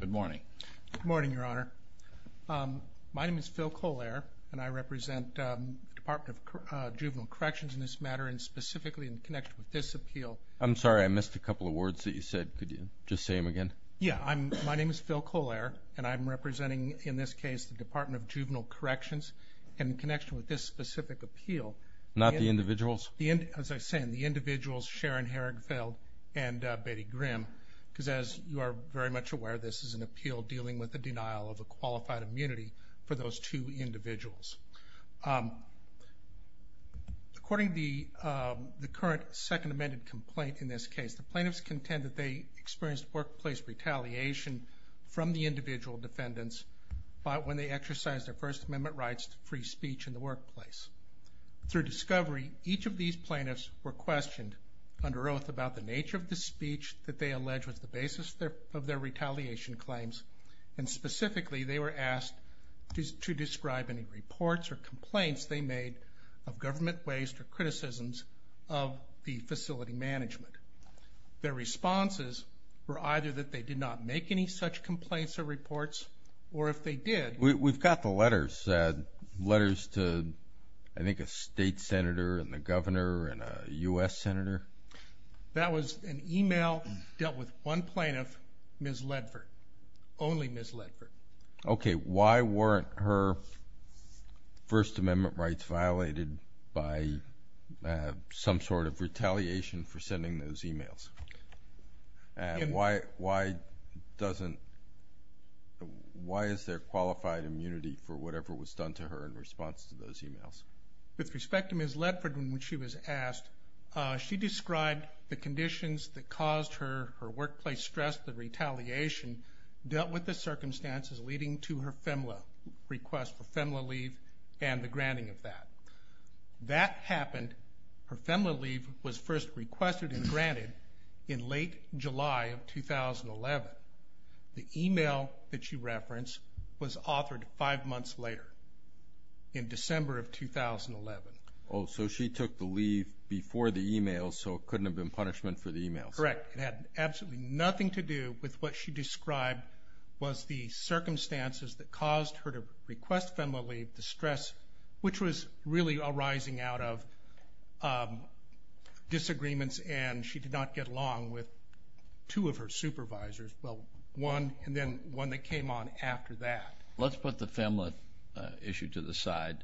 Good morning. Good morning, Your Honor. My name is Phil Kohler, and I represent the Department of Juvenile Corrections in this matter, and specifically in connection with this appeal. I'm sorry, I missed a couple of words that you said. Could you just say them again? Yeah. My name is Phil Kohler, and I'm representing, in this case, the Department of Juvenile Corrections, and in connection with this specific appeal. Not the individuals? As I was saying, the individuals, Sharon Harrigfeld and Betty Grimm, because as you are very much aware, this is an appeal dealing with the denial of a qualified immunity for those two individuals. According to the current Second Amendment complaint in this case, the plaintiffs contend that they experienced workplace retaliation from the individual defendants when they exercised their First Amendment rights to free speech in the workplace. Through discovery, each of these plaintiffs were questioned under oath about the nature of the speech that they allege was the basis of their retaliation claims, and specifically they were asked to describe any reports or complaints they made of government waste or criticisms of the facility management. Their responses were either that they did not make any such complaints or reports, or if they did. We've got the letters, letters to, I think, a state senator and the governor and a U.S. senator. That was an e-mail dealt with one plaintiff, Ms. Ledford, only Ms. Ledford. Okay, why weren't her First Amendment rights violated by some sort of retaliation for sending those e-mails? Why is there qualified immunity for whatever was done to her in response to those e-mails? With respect to Ms. Ledford, when she was asked, she described the conditions that caused her workplace stress, the retaliation, dealt with the circumstances leading to her FEMLA request for FEMLA leave and the granting of that. That happened. Her FEMLA leave was first requested and granted in late July of 2011. The e-mail that you referenced was authored five months later, in December of 2011. Oh, so she took the leave before the e-mails, so it couldn't have been punishment for the e-mails. Correct. It had absolutely nothing to do with what she described was the circumstances that caused her to request FEMLA leave, the stress, which was really arising out of disagreements, and she did not get along with two of her supervisors, well, one and then one that came on after that. Let's put the FEMLA issue to the side.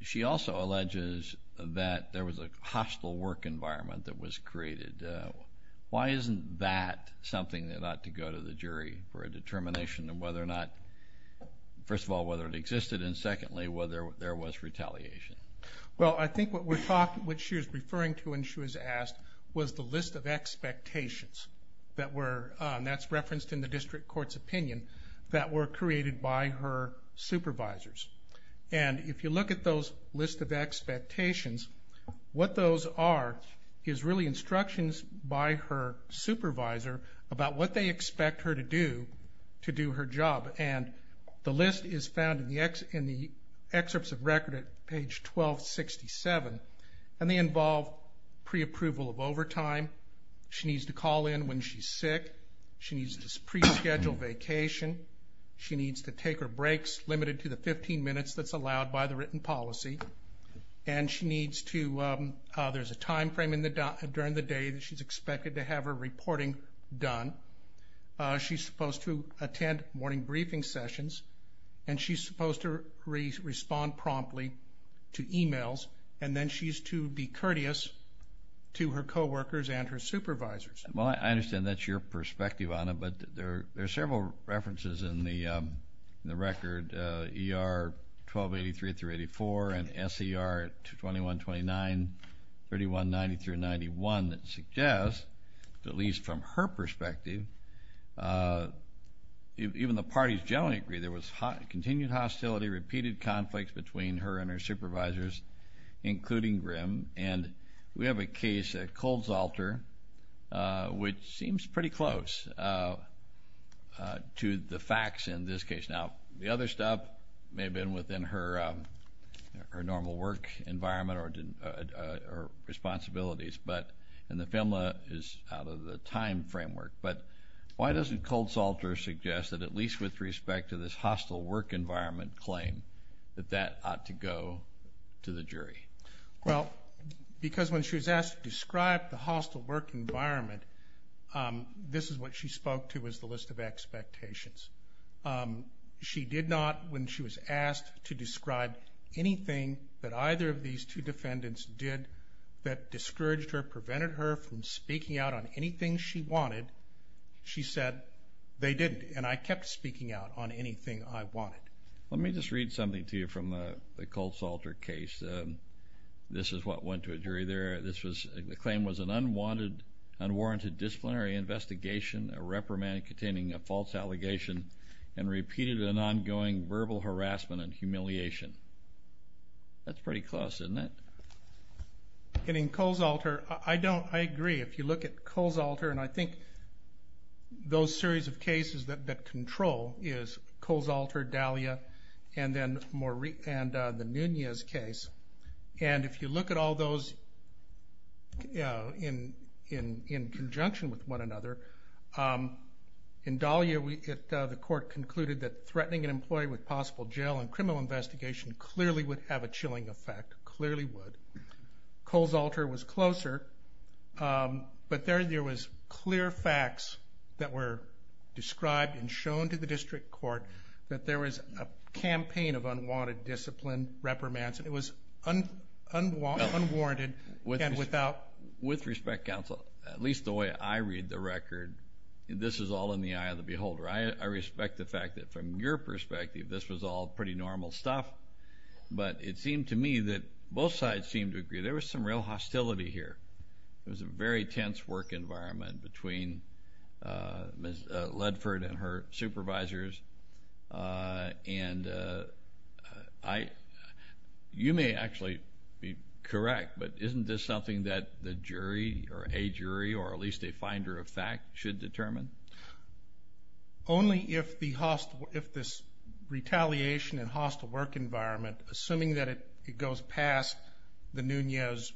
She also alleges that there was a hostile work environment that was created. Why isn't that something that ought to go to the jury for a determination of whether or not, first of all, whether it existed, and secondly, whether there was retaliation? Well, I think what she was referring to when she was asked was the list of expectations that were, and that's referenced in the district court's opinion, that were created by her supervisors. And if you look at those list of expectations, what those are is really instructions by her supervisor about what they expect her to do to do her job. And the list is found in the excerpts of record at page 1267, and they involve pre-approval of overtime. She needs to call in when she's sick. She needs to pre-schedule vacation. She needs to take her breaks limited to the 15 minutes that's allowed by the written policy, and there's a time frame during the day that she's expected to have her reporting done. She's supposed to attend morning briefing sessions, and she's supposed to respond promptly to e-mails, and then she's to be courteous to her coworkers and her supervisors. Well, I understand that's your perspective on it, but there are several references in the record, ER 1283-84 and SER 2129, 3190-91, that suggest, at least from her perspective, even the parties generally agree, there was continued hostility, repeated conflicts between her and her supervisors, including Grim. And we have a case at Cold's Altar, which seems pretty close to the facts in this case. Now, the other stuff may have been within her normal work environment or responsibilities, and the FEMLA is out of the time framework, but why doesn't Cold's Altar suggest that at least with respect to this hostile work environment claim, that that ought to go to the jury? Well, because when she was asked to describe the hostile work environment, this is what she spoke to as the list of expectations. She did not, when she was asked to describe anything that either of these two defendants did that discouraged her, prevented her from speaking out on anything she wanted, she said they didn't, and I kept speaking out on anything I wanted. Let me just read something to you from the Cold's Altar case. This is what went to a jury there. The claim was an unwarranted disciplinary investigation, a reprimand containing a false allegation, and repeated and ongoing verbal harassment and humiliation. That's pretty close, isn't it? And in Cold's Altar, I agree. If you look at Cold's Altar, and I think those series of cases that control is Cold's Altar, Dahlia, and the Nunez case. And if you look at all those in conjunction with one another, in Dahlia the court concluded that threatening an employee with possible jail and criminal investigation clearly would have a chilling effect, clearly would. Cold's Altar was closer, but there was clear facts that were described and shown to the district court that there was a campaign of unwanted discipline, reprimands, and it was unwarranted and without. With respect, counsel, at least the way I read the record, this is all in the eye of the beholder. I respect the fact that from your perspective this was all pretty normal stuff, but it seemed to me that both sides seemed to agree there was some real hostility here. It was a very tense work environment between Ms. Ledford and her supervisors. You may actually be correct, but isn't this something that the jury or a jury or at least a finder of fact should determine? Only if this retaliation and hostile work environment, assuming that it goes past the Nunez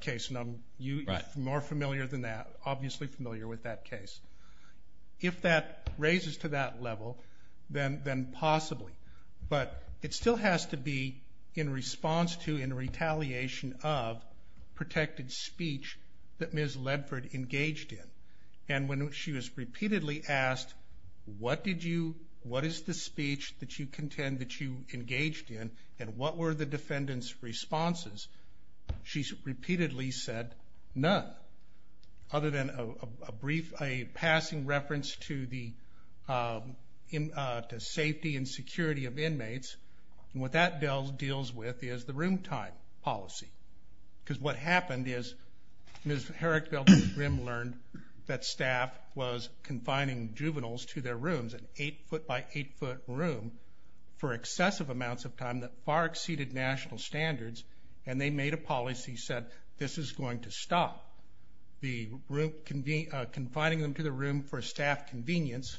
case, and you are more familiar than that, obviously familiar with that case. If that raises to that level, then possibly. But it still has to be in response to and retaliation of protected speech that Ms. Ledford engaged in. And when she was repeatedly asked, what did you, what is the speech that you contend that you engaged in, and what were the defendant's responses, she repeatedly said, none. Other than a brief, a passing reference to the safety and security of inmates, and what that deals with is the room time policy. Because what happened is Ms. Herrick-Beltran learned that staff was confining juveniles to their rooms, an eight-foot by eight-foot room for excessive amounts of time that far exceeded national standards, and they made a policy that said this is going to stop confining them to the room for staff convenience,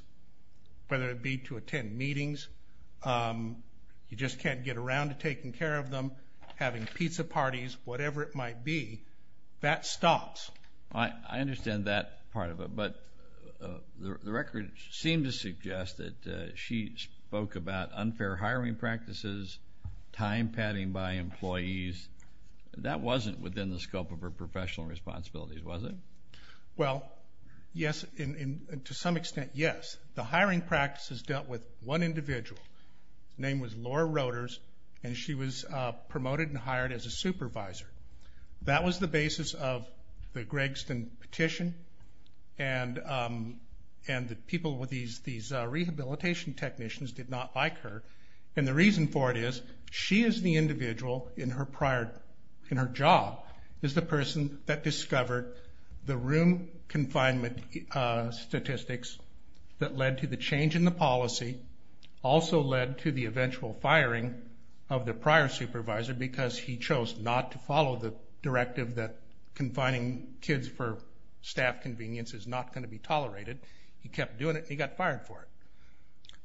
whether it be to attend meetings, you just can't get around to taking care of them, having pizza parties, whatever it might be. That stops. I understand that part of it. But the record seemed to suggest that she spoke about unfair hiring practices, time padding by employees. That wasn't within the scope of her professional responsibilities, was it? Well, yes, and to some extent, yes. The hiring practices dealt with one individual. Her name was Laura Roeders, and she was promoted and hired as a supervisor. That was the basis of the Gregson petition, and the people, these rehabilitation technicians did not like her, and the reason for it is she is the individual in her prior, in her job, is the person that discovered the room confinement statistics that led to the change in the policy, also led to the eventual firing of the prior supervisor because he chose not to follow the directive that confining kids for staff convenience is not going to be tolerated. He kept doing it, and he got fired for it.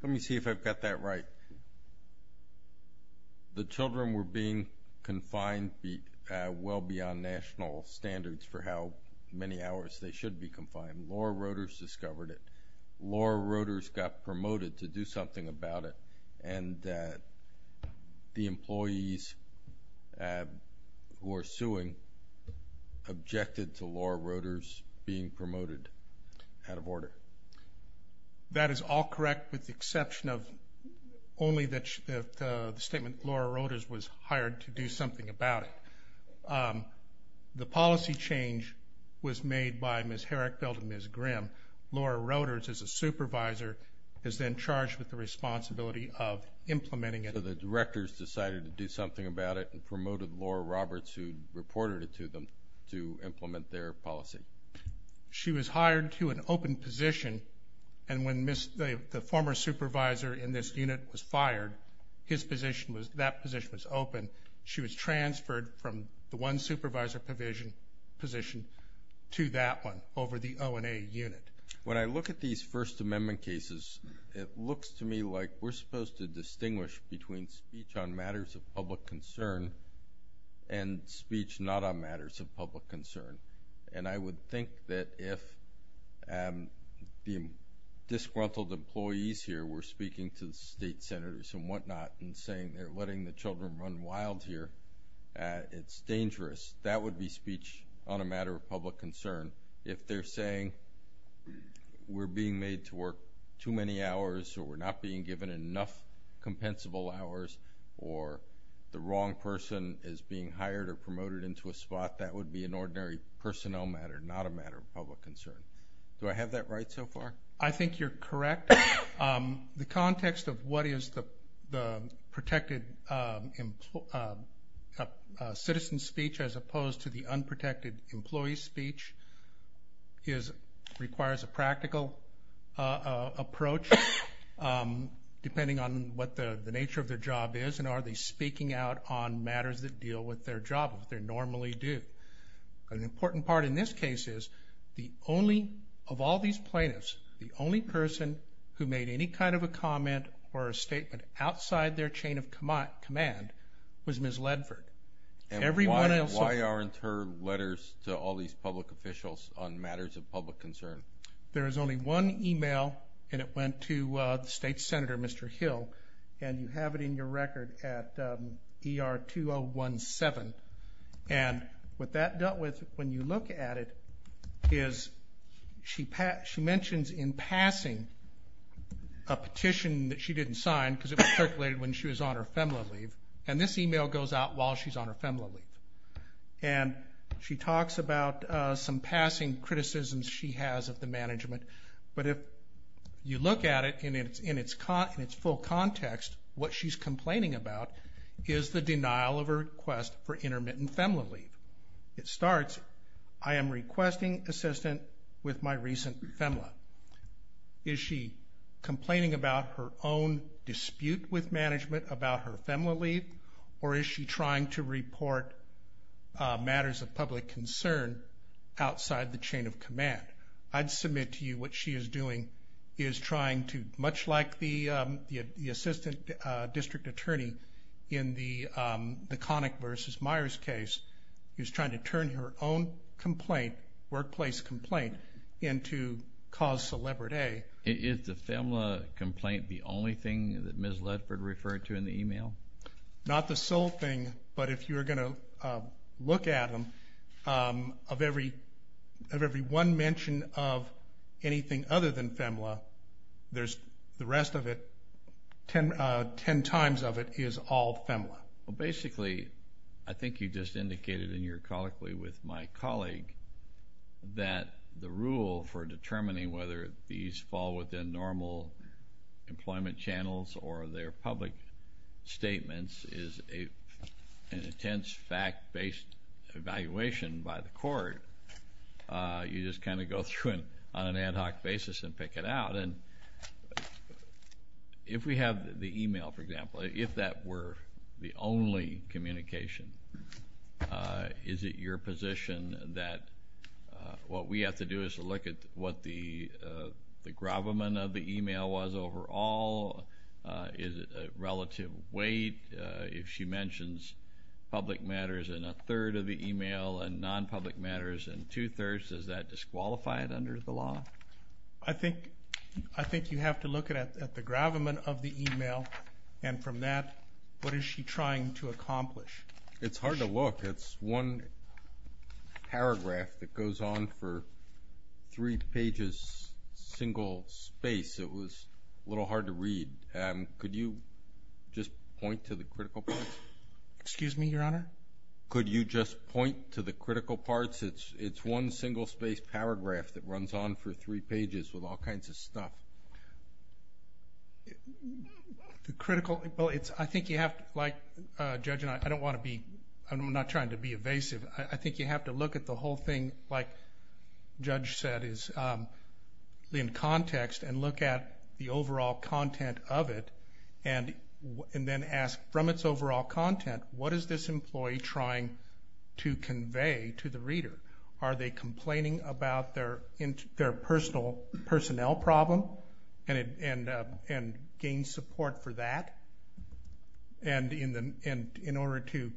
Let me see if I've got that right. The children were being confined well beyond national standards for how many hours they should be confined. Laura Roeders discovered it. Laura Roeders got promoted to do something about it, and the employees who are suing objected to Laura Roeders being promoted out of order. That is all correct with the exception of only the statement that Laura Roeders was hired to do something about it. The policy change was made by Ms. Herrickfeld and Ms. Grimm. Laura Roeders, as a supervisor, is then charged with the responsibility of implementing it. So the directors decided to do something about it and promoted Laura Roeders who reported it to them to implement their policy. She was hired to an open position, and when the former supervisor in this unit was fired, that position was open. She was transferred from the one supervisor position to that one over the O&A unit. When I look at these First Amendment cases, it looks to me like we're supposed to distinguish between speech on matters of public concern and speech not on matters of public concern. I would think that if the disgruntled employees here were speaking to the state senators and whatnot and saying they're letting the children run wild here, it's dangerous, that would be speech on a matter of public concern. If they're saying we're being made to work too many hours or we're not being given enough compensable hours or the wrong person is being hired or promoted into a spot, that would be an ordinary personnel matter, not a matter of public concern. Do I have that right so far? I think you're correct. The context of what is the protected citizen speech as opposed to the unprotected employee speech requires a practical approach, depending on what the nature of their job is and are they speaking out on matters that deal with their job as they normally do. An important part in this case is of all these plaintiffs, the only person who made any kind of a comment or a statement outside their chain of command was Ms. Ledford. Why aren't her letters to all these public officials on matters of public concern? There is only one email, and it went to the state senator, Mr. Hill, and you have it in your record at ER2017. And what that dealt with, when you look at it, is she mentions in passing a petition that she didn't sign because it was circulated when she was on her FEMLA leave, and this email goes out while she's on her FEMLA leave. And she talks about some passing criticisms she has of the management, but if you look at it in its full context, what she's complaining about is the denial of her request for intermittent FEMLA leave. It starts, I am requesting assistance with my recent FEMLA. Is she complaining about her own dispute with management about her FEMLA leave, or is she trying to report matters of public concern outside the chain of command? I'd submit to you what she is doing is trying to, much like the assistant district attorney in the Connick v. Myers case, is trying to turn her own complaint, workplace complaint, into cause celebrite A. Is the FEMLA complaint the only thing that Ms. Ledford referred to in the email? Not the sole thing, but if you are going to look at them, of every one mention of anything other than FEMLA, the rest of it, ten times of it, is all FEMLA. Basically, I think you just indicated in your colloquy with my colleague that the rule for determining whether these fall within normal employment channels or their public statements is an intense fact-based evaluation by the court. You just kind of go through it on an ad hoc basis and pick it out. If we have the email, for example, if that were the only communication, is it your position that what we have to do is to look at what the gravamen of the email was overall? Is it a relative weight? If she mentions public matters in a third of the email and non-public matters in two-thirds, does that disqualify it under the law? I think you have to look at the gravamen of the email, and from that, what is she trying to accomplish? It's hard to look. It's one paragraph that goes on for three pages, single space. It was a little hard to read. Could you just point to the critical parts? Excuse me, Your Honor? Could you just point to the critical parts? It's one single space paragraph that runs on for three pages with all kinds of stuff. The critical, well, I think you have to, like Judge, and I don't want to be, I'm not trying to be evasive, I think you have to look at the whole thing, like Judge said, in context and look at the overall content of it and then ask from its overall content, what is this employee trying to convey to the reader? Are they complaining about their personnel problem and gain support for that? And in order to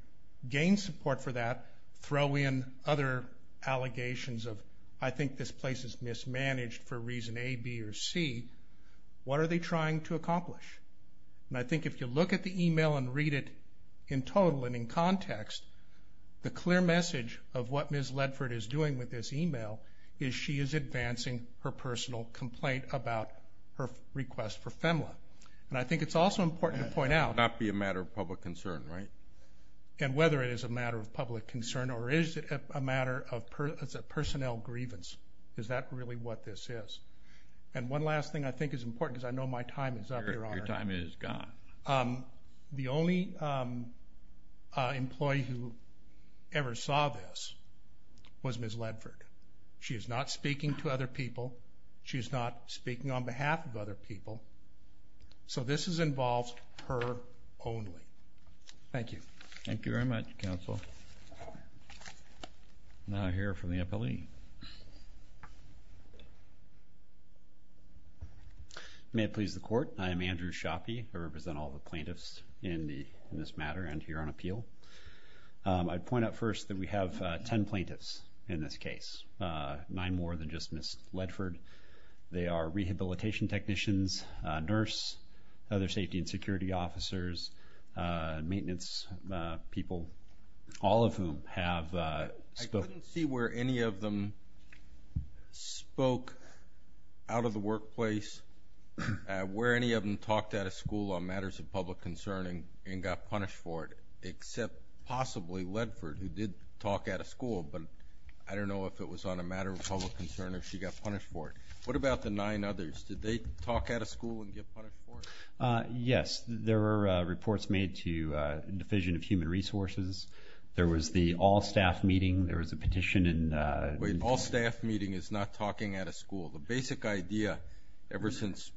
gain support for that, throw in other allegations of, I think this place is mismanaged for reason A, B, or C. What are they trying to accomplish? And I think if you look at the email and read it in total and in context, the clear message of what Ms. Ledford is doing with this email is she is advancing her personal complaint about her request for FEMLA. And I think it's also important to point out. It cannot be a matter of public concern, right? And whether it is a matter of public concern or is it a matter of personnel grievance, is that really what this is? And one last thing I think is important because I know my time is up, Your Honor. Your time is gone. The only employee who ever saw this was Ms. Ledford. She is not speaking to other people. She is not speaking on behalf of other people. So this involves her only. Thank you. Thank you very much, counsel. Now I'll hear from the appellee. May it please the Court, I am Andrew Schappe. I represent all the plaintiffs in this matter and here on appeal. I'd point out first that we have ten plaintiffs in this case, nine more than just Ms. Ledford. They are rehabilitation technicians, nurse, other safety and security officers, maintenance people, all of whom have spoken. I couldn't see where any of them spoke out of the workplace, where any of them talked out of school on matters of public concern and got punished for it except possibly Ledford who did talk out of school. But I don't know if it was on a matter of public concern or she got punished for it. What about the nine others? Did they talk out of school and get punished for it? Yes. There were reports made to the Division of Human Resources. There was the all-staff meeting. There was a petition. Wait, all-staff meeting is not talking out of school. The basic idea ever since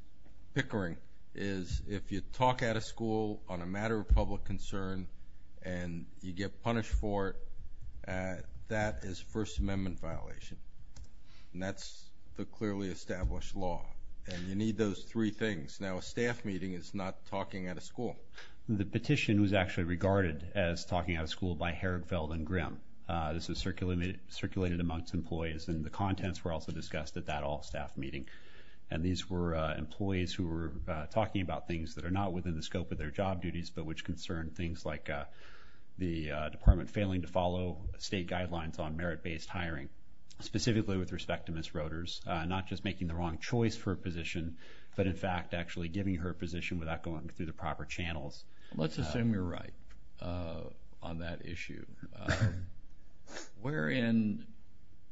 Pickering is if you talk out of school on a matter of public concern and you get punished for it, that is First Amendment violation. And that's the clearly established law. And you need those three things. Now, a staff meeting is not talking out of school. The petition was actually regarded as talking out of school by Herigfeld and Grimm. This was circulated amongst employees, and the contents were also discussed at that all-staff meeting. And these were employees who were talking about things that are not within the scope of their job duties but which concern things like the department failing to follow state guidelines on merit-based hiring, specifically with respect to Ms. Roeders, not just making the wrong choice for a position but, in fact, actually giving her a position without going through the proper channels. Let's assume you're right on that issue. Wherein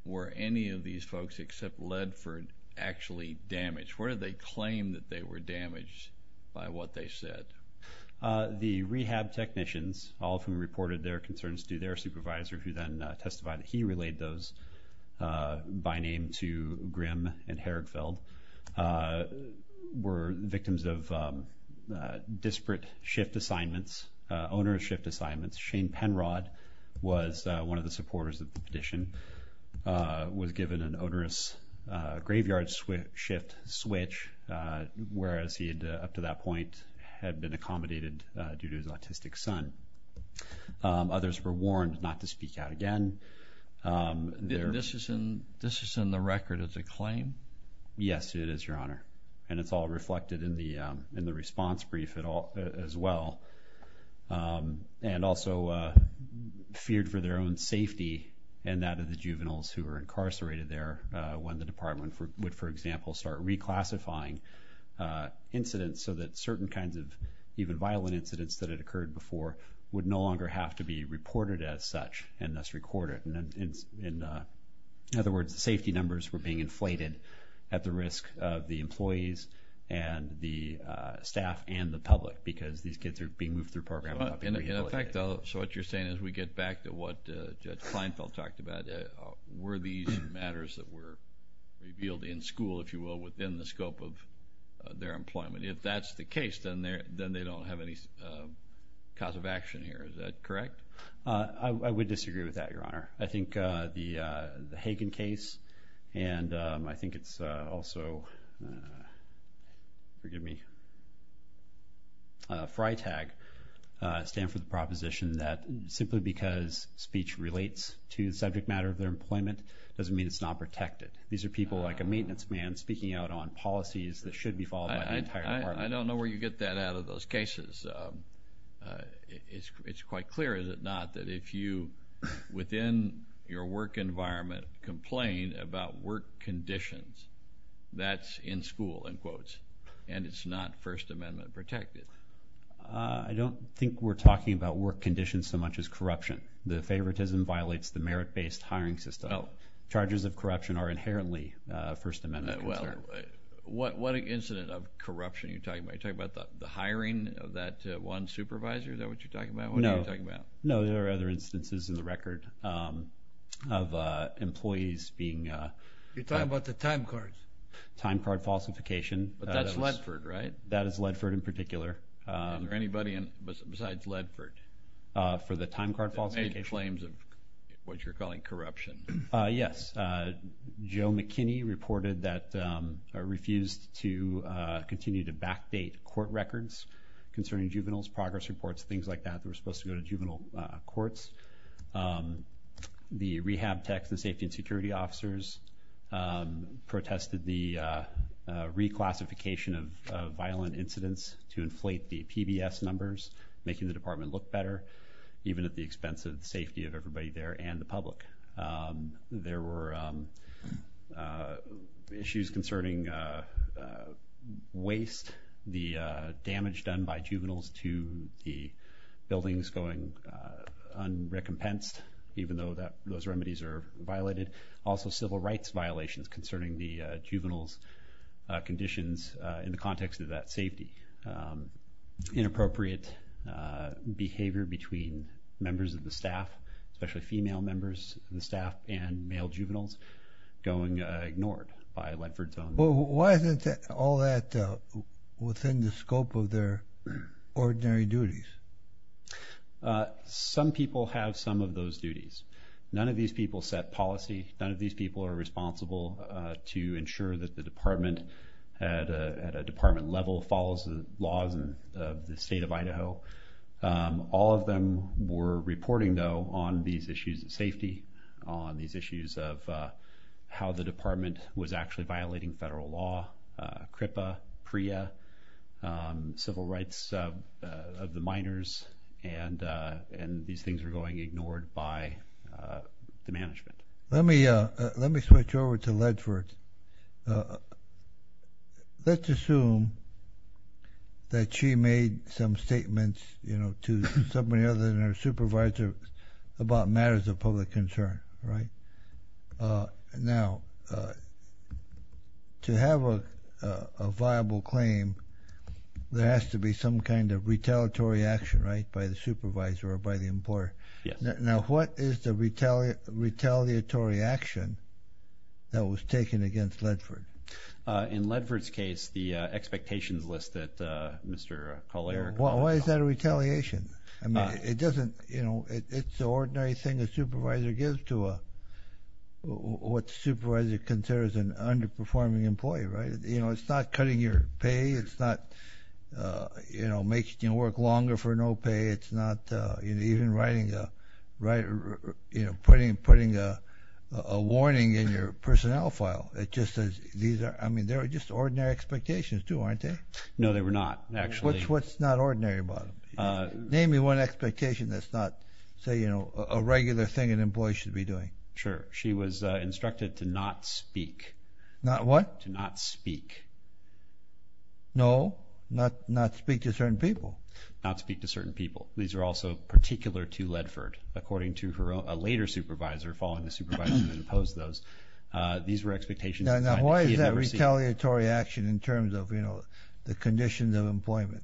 were any of these folks except Ledford actually damaged? Where did they claim that they were damaged by what they said? The rehab technicians, all of whom reported their concerns to their supervisor, who then testified that he relayed those by name to Grimm and Herigfeld, were victims of disparate shift assignments, onerous shift assignments. Shane Penrod was one of the supporters of the petition, was given an onerous graveyard shift switch, whereas he, up to that point, had been accommodated due to his autistic son. Others were warned not to speak out again. This is in the record as a claim? Yes, it is, Your Honor, and it's all reflected in the response brief as well. And also feared for their own safety and that of the juveniles who were incarcerated there when the department would, for example, start reclassifying incidents so that certain kinds of even violent incidents that had occurred before would no longer have to be reported as such and thus recorded. In other words, the safety numbers were being inflated at the risk of the employees and the staff and the public because these kids are being moved through programs. In effect, though, so what you're saying is we get back to what Judge Feinfeld talked about. Were these matters that were revealed in school, if you will, within the scope of their employment? If that's the case, then they don't have any cause of action here. Is that correct? I would disagree with that, Your Honor. I think the Hagen case and I think it's also, forgive me, FRITAG stand for the proposition that simply because speech relates to the subject matter of their employment doesn't mean it's not protected. These are people like a maintenance man speaking out on policies that should be followed by the entire department. I don't know where you get that out of those cases. It's quite clear, is it not, that if you, within your work environment, complain about work conditions, that's in school, in quotes, and it's not First Amendment protected. I don't think we're talking about work conditions so much as corruption. The favoritism violates the merit-based hiring system. Charges of corruption are inherently a First Amendment concern. What incident of corruption are you talking about? Are you talking about the hiring of that one supervisor? Is that what you're talking about? No, there are other instances in the record of employees being… You're talking about the time cards. Time card falsification. But that's Ledford, right? That is Ledford in particular. Is there anybody besides Ledford? For the time card falsification? That made claims of what you're calling corruption. Yes. Joe McKinney reported that refused to continue to backdate court records concerning juveniles, progress reports, things like that. They were supposed to go to juvenile courts. The rehab techs and safety and security officers protested the reclassification of violent incidents to inflate the PBS numbers, making the department look better, even at the expense of the safety of everybody there and the public. There were issues concerning waste, the damage done by juveniles to the buildings going un-recompensed, even though those remedies are violated. Also, civil rights violations concerning the juveniles' conditions in the context of that safety. Inappropriate behavior between members of the staff, especially female members of the staff and male juveniles, going ignored by Ledford's own… Why isn't all that within the scope of their ordinary duties? Some people have some of those duties. None of these people set policy. None of these people are responsible to ensure that the department, at a department level, follows the laws of the state of Idaho. All of them were reporting, though, on these issues of safety, on these issues of how the department was actually violating federal law, CRIPA, PREA, civil rights of the minors, and these things were going ignored by the management. Let me switch over to Ledford. Let's assume that she made some statements to somebody other than her supervisor about matters of public concern. Now, to have a viable claim, there has to be some kind of retaliatory action by the supervisor or by the employer. Now, what is the retaliatory action that was taken against Ledford? In Ledford's case, the expectations list that Mr. Collier… Why is that a retaliation? It's the ordinary thing a supervisor gives to what the supervisor considers an underperforming employee. It's not cutting your pay. It's not making you work longer for no pay. It's not even putting a warning in your personnel file. I mean, they were just ordinary expectations, too, aren't they? No, they were not, actually. What's not ordinary about them? Name me one expectation that's not, say, a regular thing an employee should be doing. Sure. She was instructed to not speak. Not what? To not speak. No, not speak to certain people. Not speak to certain people. These are also particular to Ledford. According to a later supervisor, following the supervisor who imposed those, these were expectations. Now, why is that retaliatory action in terms of, you know, the conditions of employment?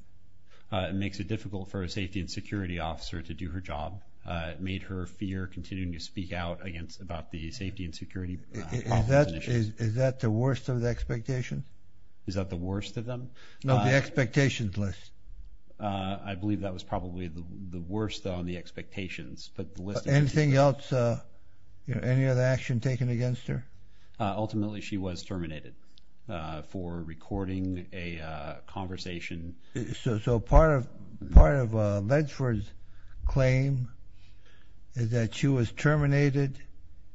It makes it difficult for a safety and security officer to do her job. It made her fear continuing to speak out about the safety and security problems and issues. Is that the worst of the expectations? Is that the worst of them? No, the expectations list. I believe that was probably the worst on the expectations. Anything else, any other action taken against her? Ultimately, she was terminated for recording a conversation. So part of Ledford's claim is that she was terminated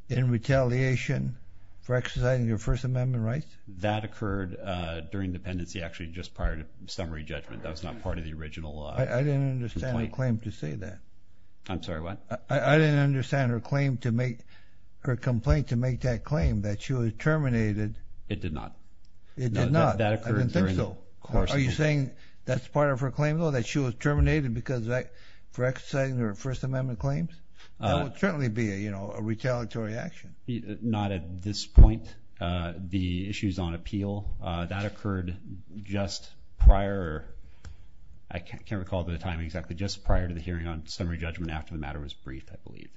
in retaliation for exercising her First Amendment rights? That occurred during dependency, actually, just prior to summary judgment. That was not part of the original complaint. I didn't understand her claim to say that. I'm sorry, what? I didn't understand her complaint to make that claim that she was terminated. It did not. It did not. I didn't think so. Are you saying that's part of her claim, though, that she was terminated for exercising her First Amendment claims? That would certainly be a retaliatory action. Not at this point. The issues on appeal, that occurred just prior. I can't recall at the time exactly, just prior to the hearing on summary judgment after the matter was briefed, I believe.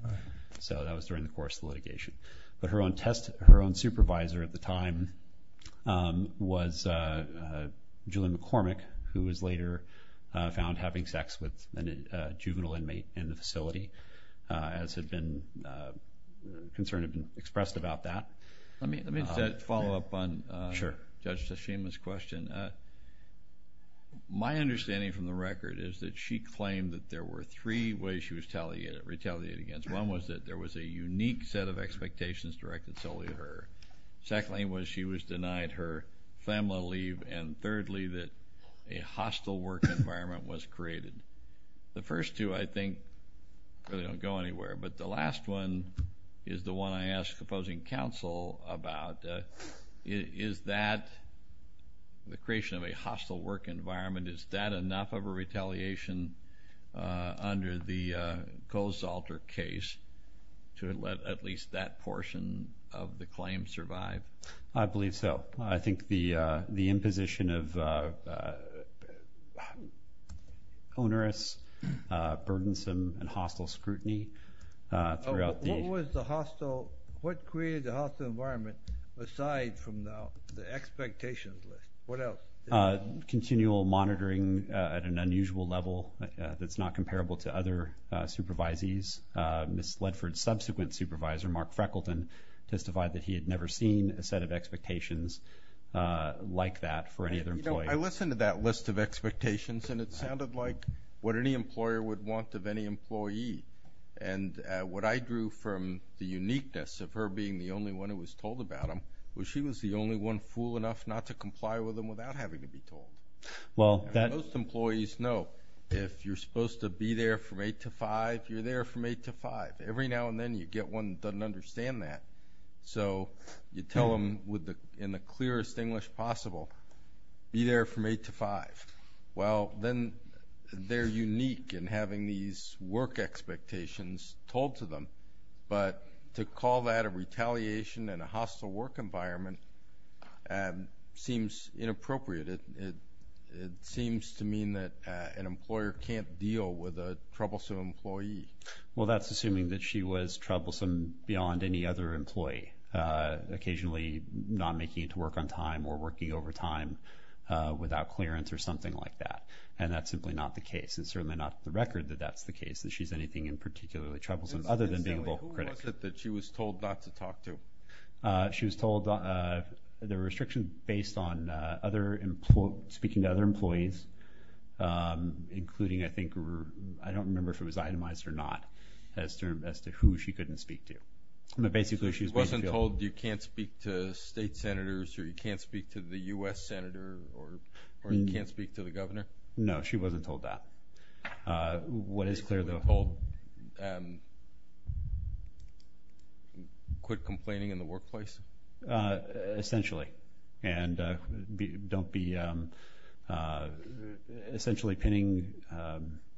So that was during the course of litigation. But her own supervisor at the time was Julian McCormick, who was later found having sex with a juvenile inmate in the facility, as had been concerned and expressed about that. Let me follow up on Judge Tashima's question. My understanding from the record is that she claimed that there were three ways she was retaliated against. One was that there was a unique set of expectations directed solely to her. Secondly was she was denied her family leave. And thirdly, that a hostile work environment was created. The first two, I think, really don't go anywhere. But the last one is the one I asked opposing counsel about. Is that, the creation of a hostile work environment, is that enough of a retaliation under the Kohls-Salter case to let at least that portion of the claim survive? I believe so. I think the imposition of onerous, burdensome, and hostile scrutiny throughout the- What was the hostile, what created the hostile environment aside from the expectations list? What else? Continual monitoring at an unusual level that's not comparable to other supervisees. Ms. Ledford's subsequent supervisor, Mark Freckleton, testified that he had never seen a set of expectations like that for any other employee. I listened to that list of expectations, and it sounded like what any employer would want of any employee. And what I drew from the uniqueness of her being the only one who was told about them was she was the only one fool enough not to comply with them without having to be told. Most employees know if you're supposed to be there from 8 to 5, you're there from 8 to 5. Every now and then you get one that doesn't understand that. So you tell them in the clearest English possible, be there from 8 to 5. Well, then they're unique in having these work expectations told to them. But to call that a retaliation in a hostile work environment seems inappropriate. It seems to mean that an employer can't deal with a troublesome employee. Well, that's assuming that she was troublesome beyond any other employee, occasionally not making it to work on time or working overtime without clearance or something like that. And that's simply not the case. It's certainly not the record that that's the case, that she's anything in particularly troublesome other than being able to criticize. Who was it that she was told not to talk to? She was told there were restrictions based on speaking to other employees, including, I think, I don't remember if it was itemized or not, as to who she couldn't speak to. So she wasn't told you can't speak to state senators or you can't speak to the U.S. senator or you can't speak to the governor? No, she wasn't told that. What is clear, though, hold? Quit complaining in the workplace? Essentially. And don't be essentially pinning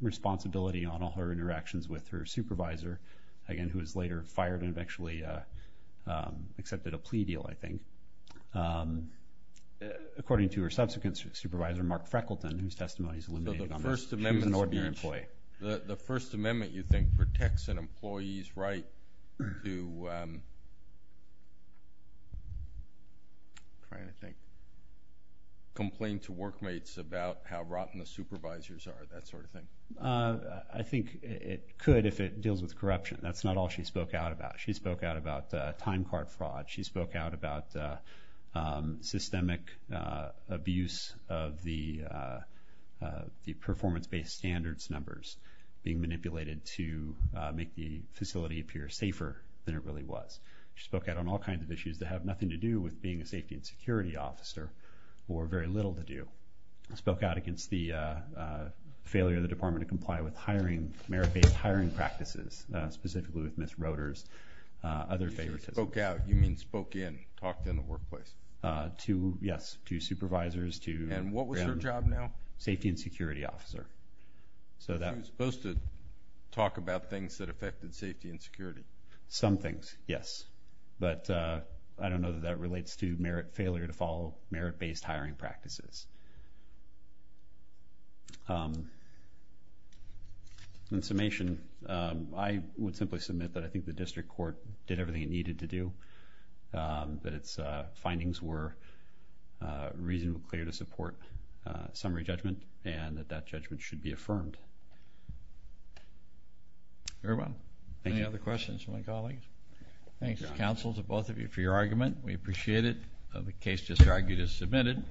responsibility on all her interactions with her supervisor, again, who was later fired and eventually accepted a plea deal, I think. According to her subsequent supervisor, Mark Freckleton, whose testimony is eliminated on this. She was an ordinary employee. The First Amendment, you think, protects an employee's right to complain to workmates about how rotten the supervisors are, that sort of thing? I think it could if it deals with corruption. That's not all she spoke out about. She spoke out about time card fraud. She spoke out about systemic abuse of the performance-based standards numbers being manipulated to make the facility appear safer than it really was. She spoke out on all kinds of issues that have nothing to do with being a safety and security officer or very little to do. She spoke out against the failure of the department to comply with hiring, merit-based hiring practices, specifically with Ms. Roeder's other favoritism. When you say spoke out, you mean spoke in, talked in the workplace? Yes, to supervisors, to... And what was her job now? Safety and security officer. She was supposed to talk about things that affected safety and security. Some things, yes. But I don't know that that relates to merit failure to follow merit-based hiring practices. In summation, I would simply submit that I think the district court did everything it needed to do, that its findings were reasonably clear to support summary judgment, and that that judgment should be affirmed. Very well. Thank you. Any other questions from my colleagues? Thanks, counsel, to both of you for your argument. We appreciate it. The case just argued is submitted.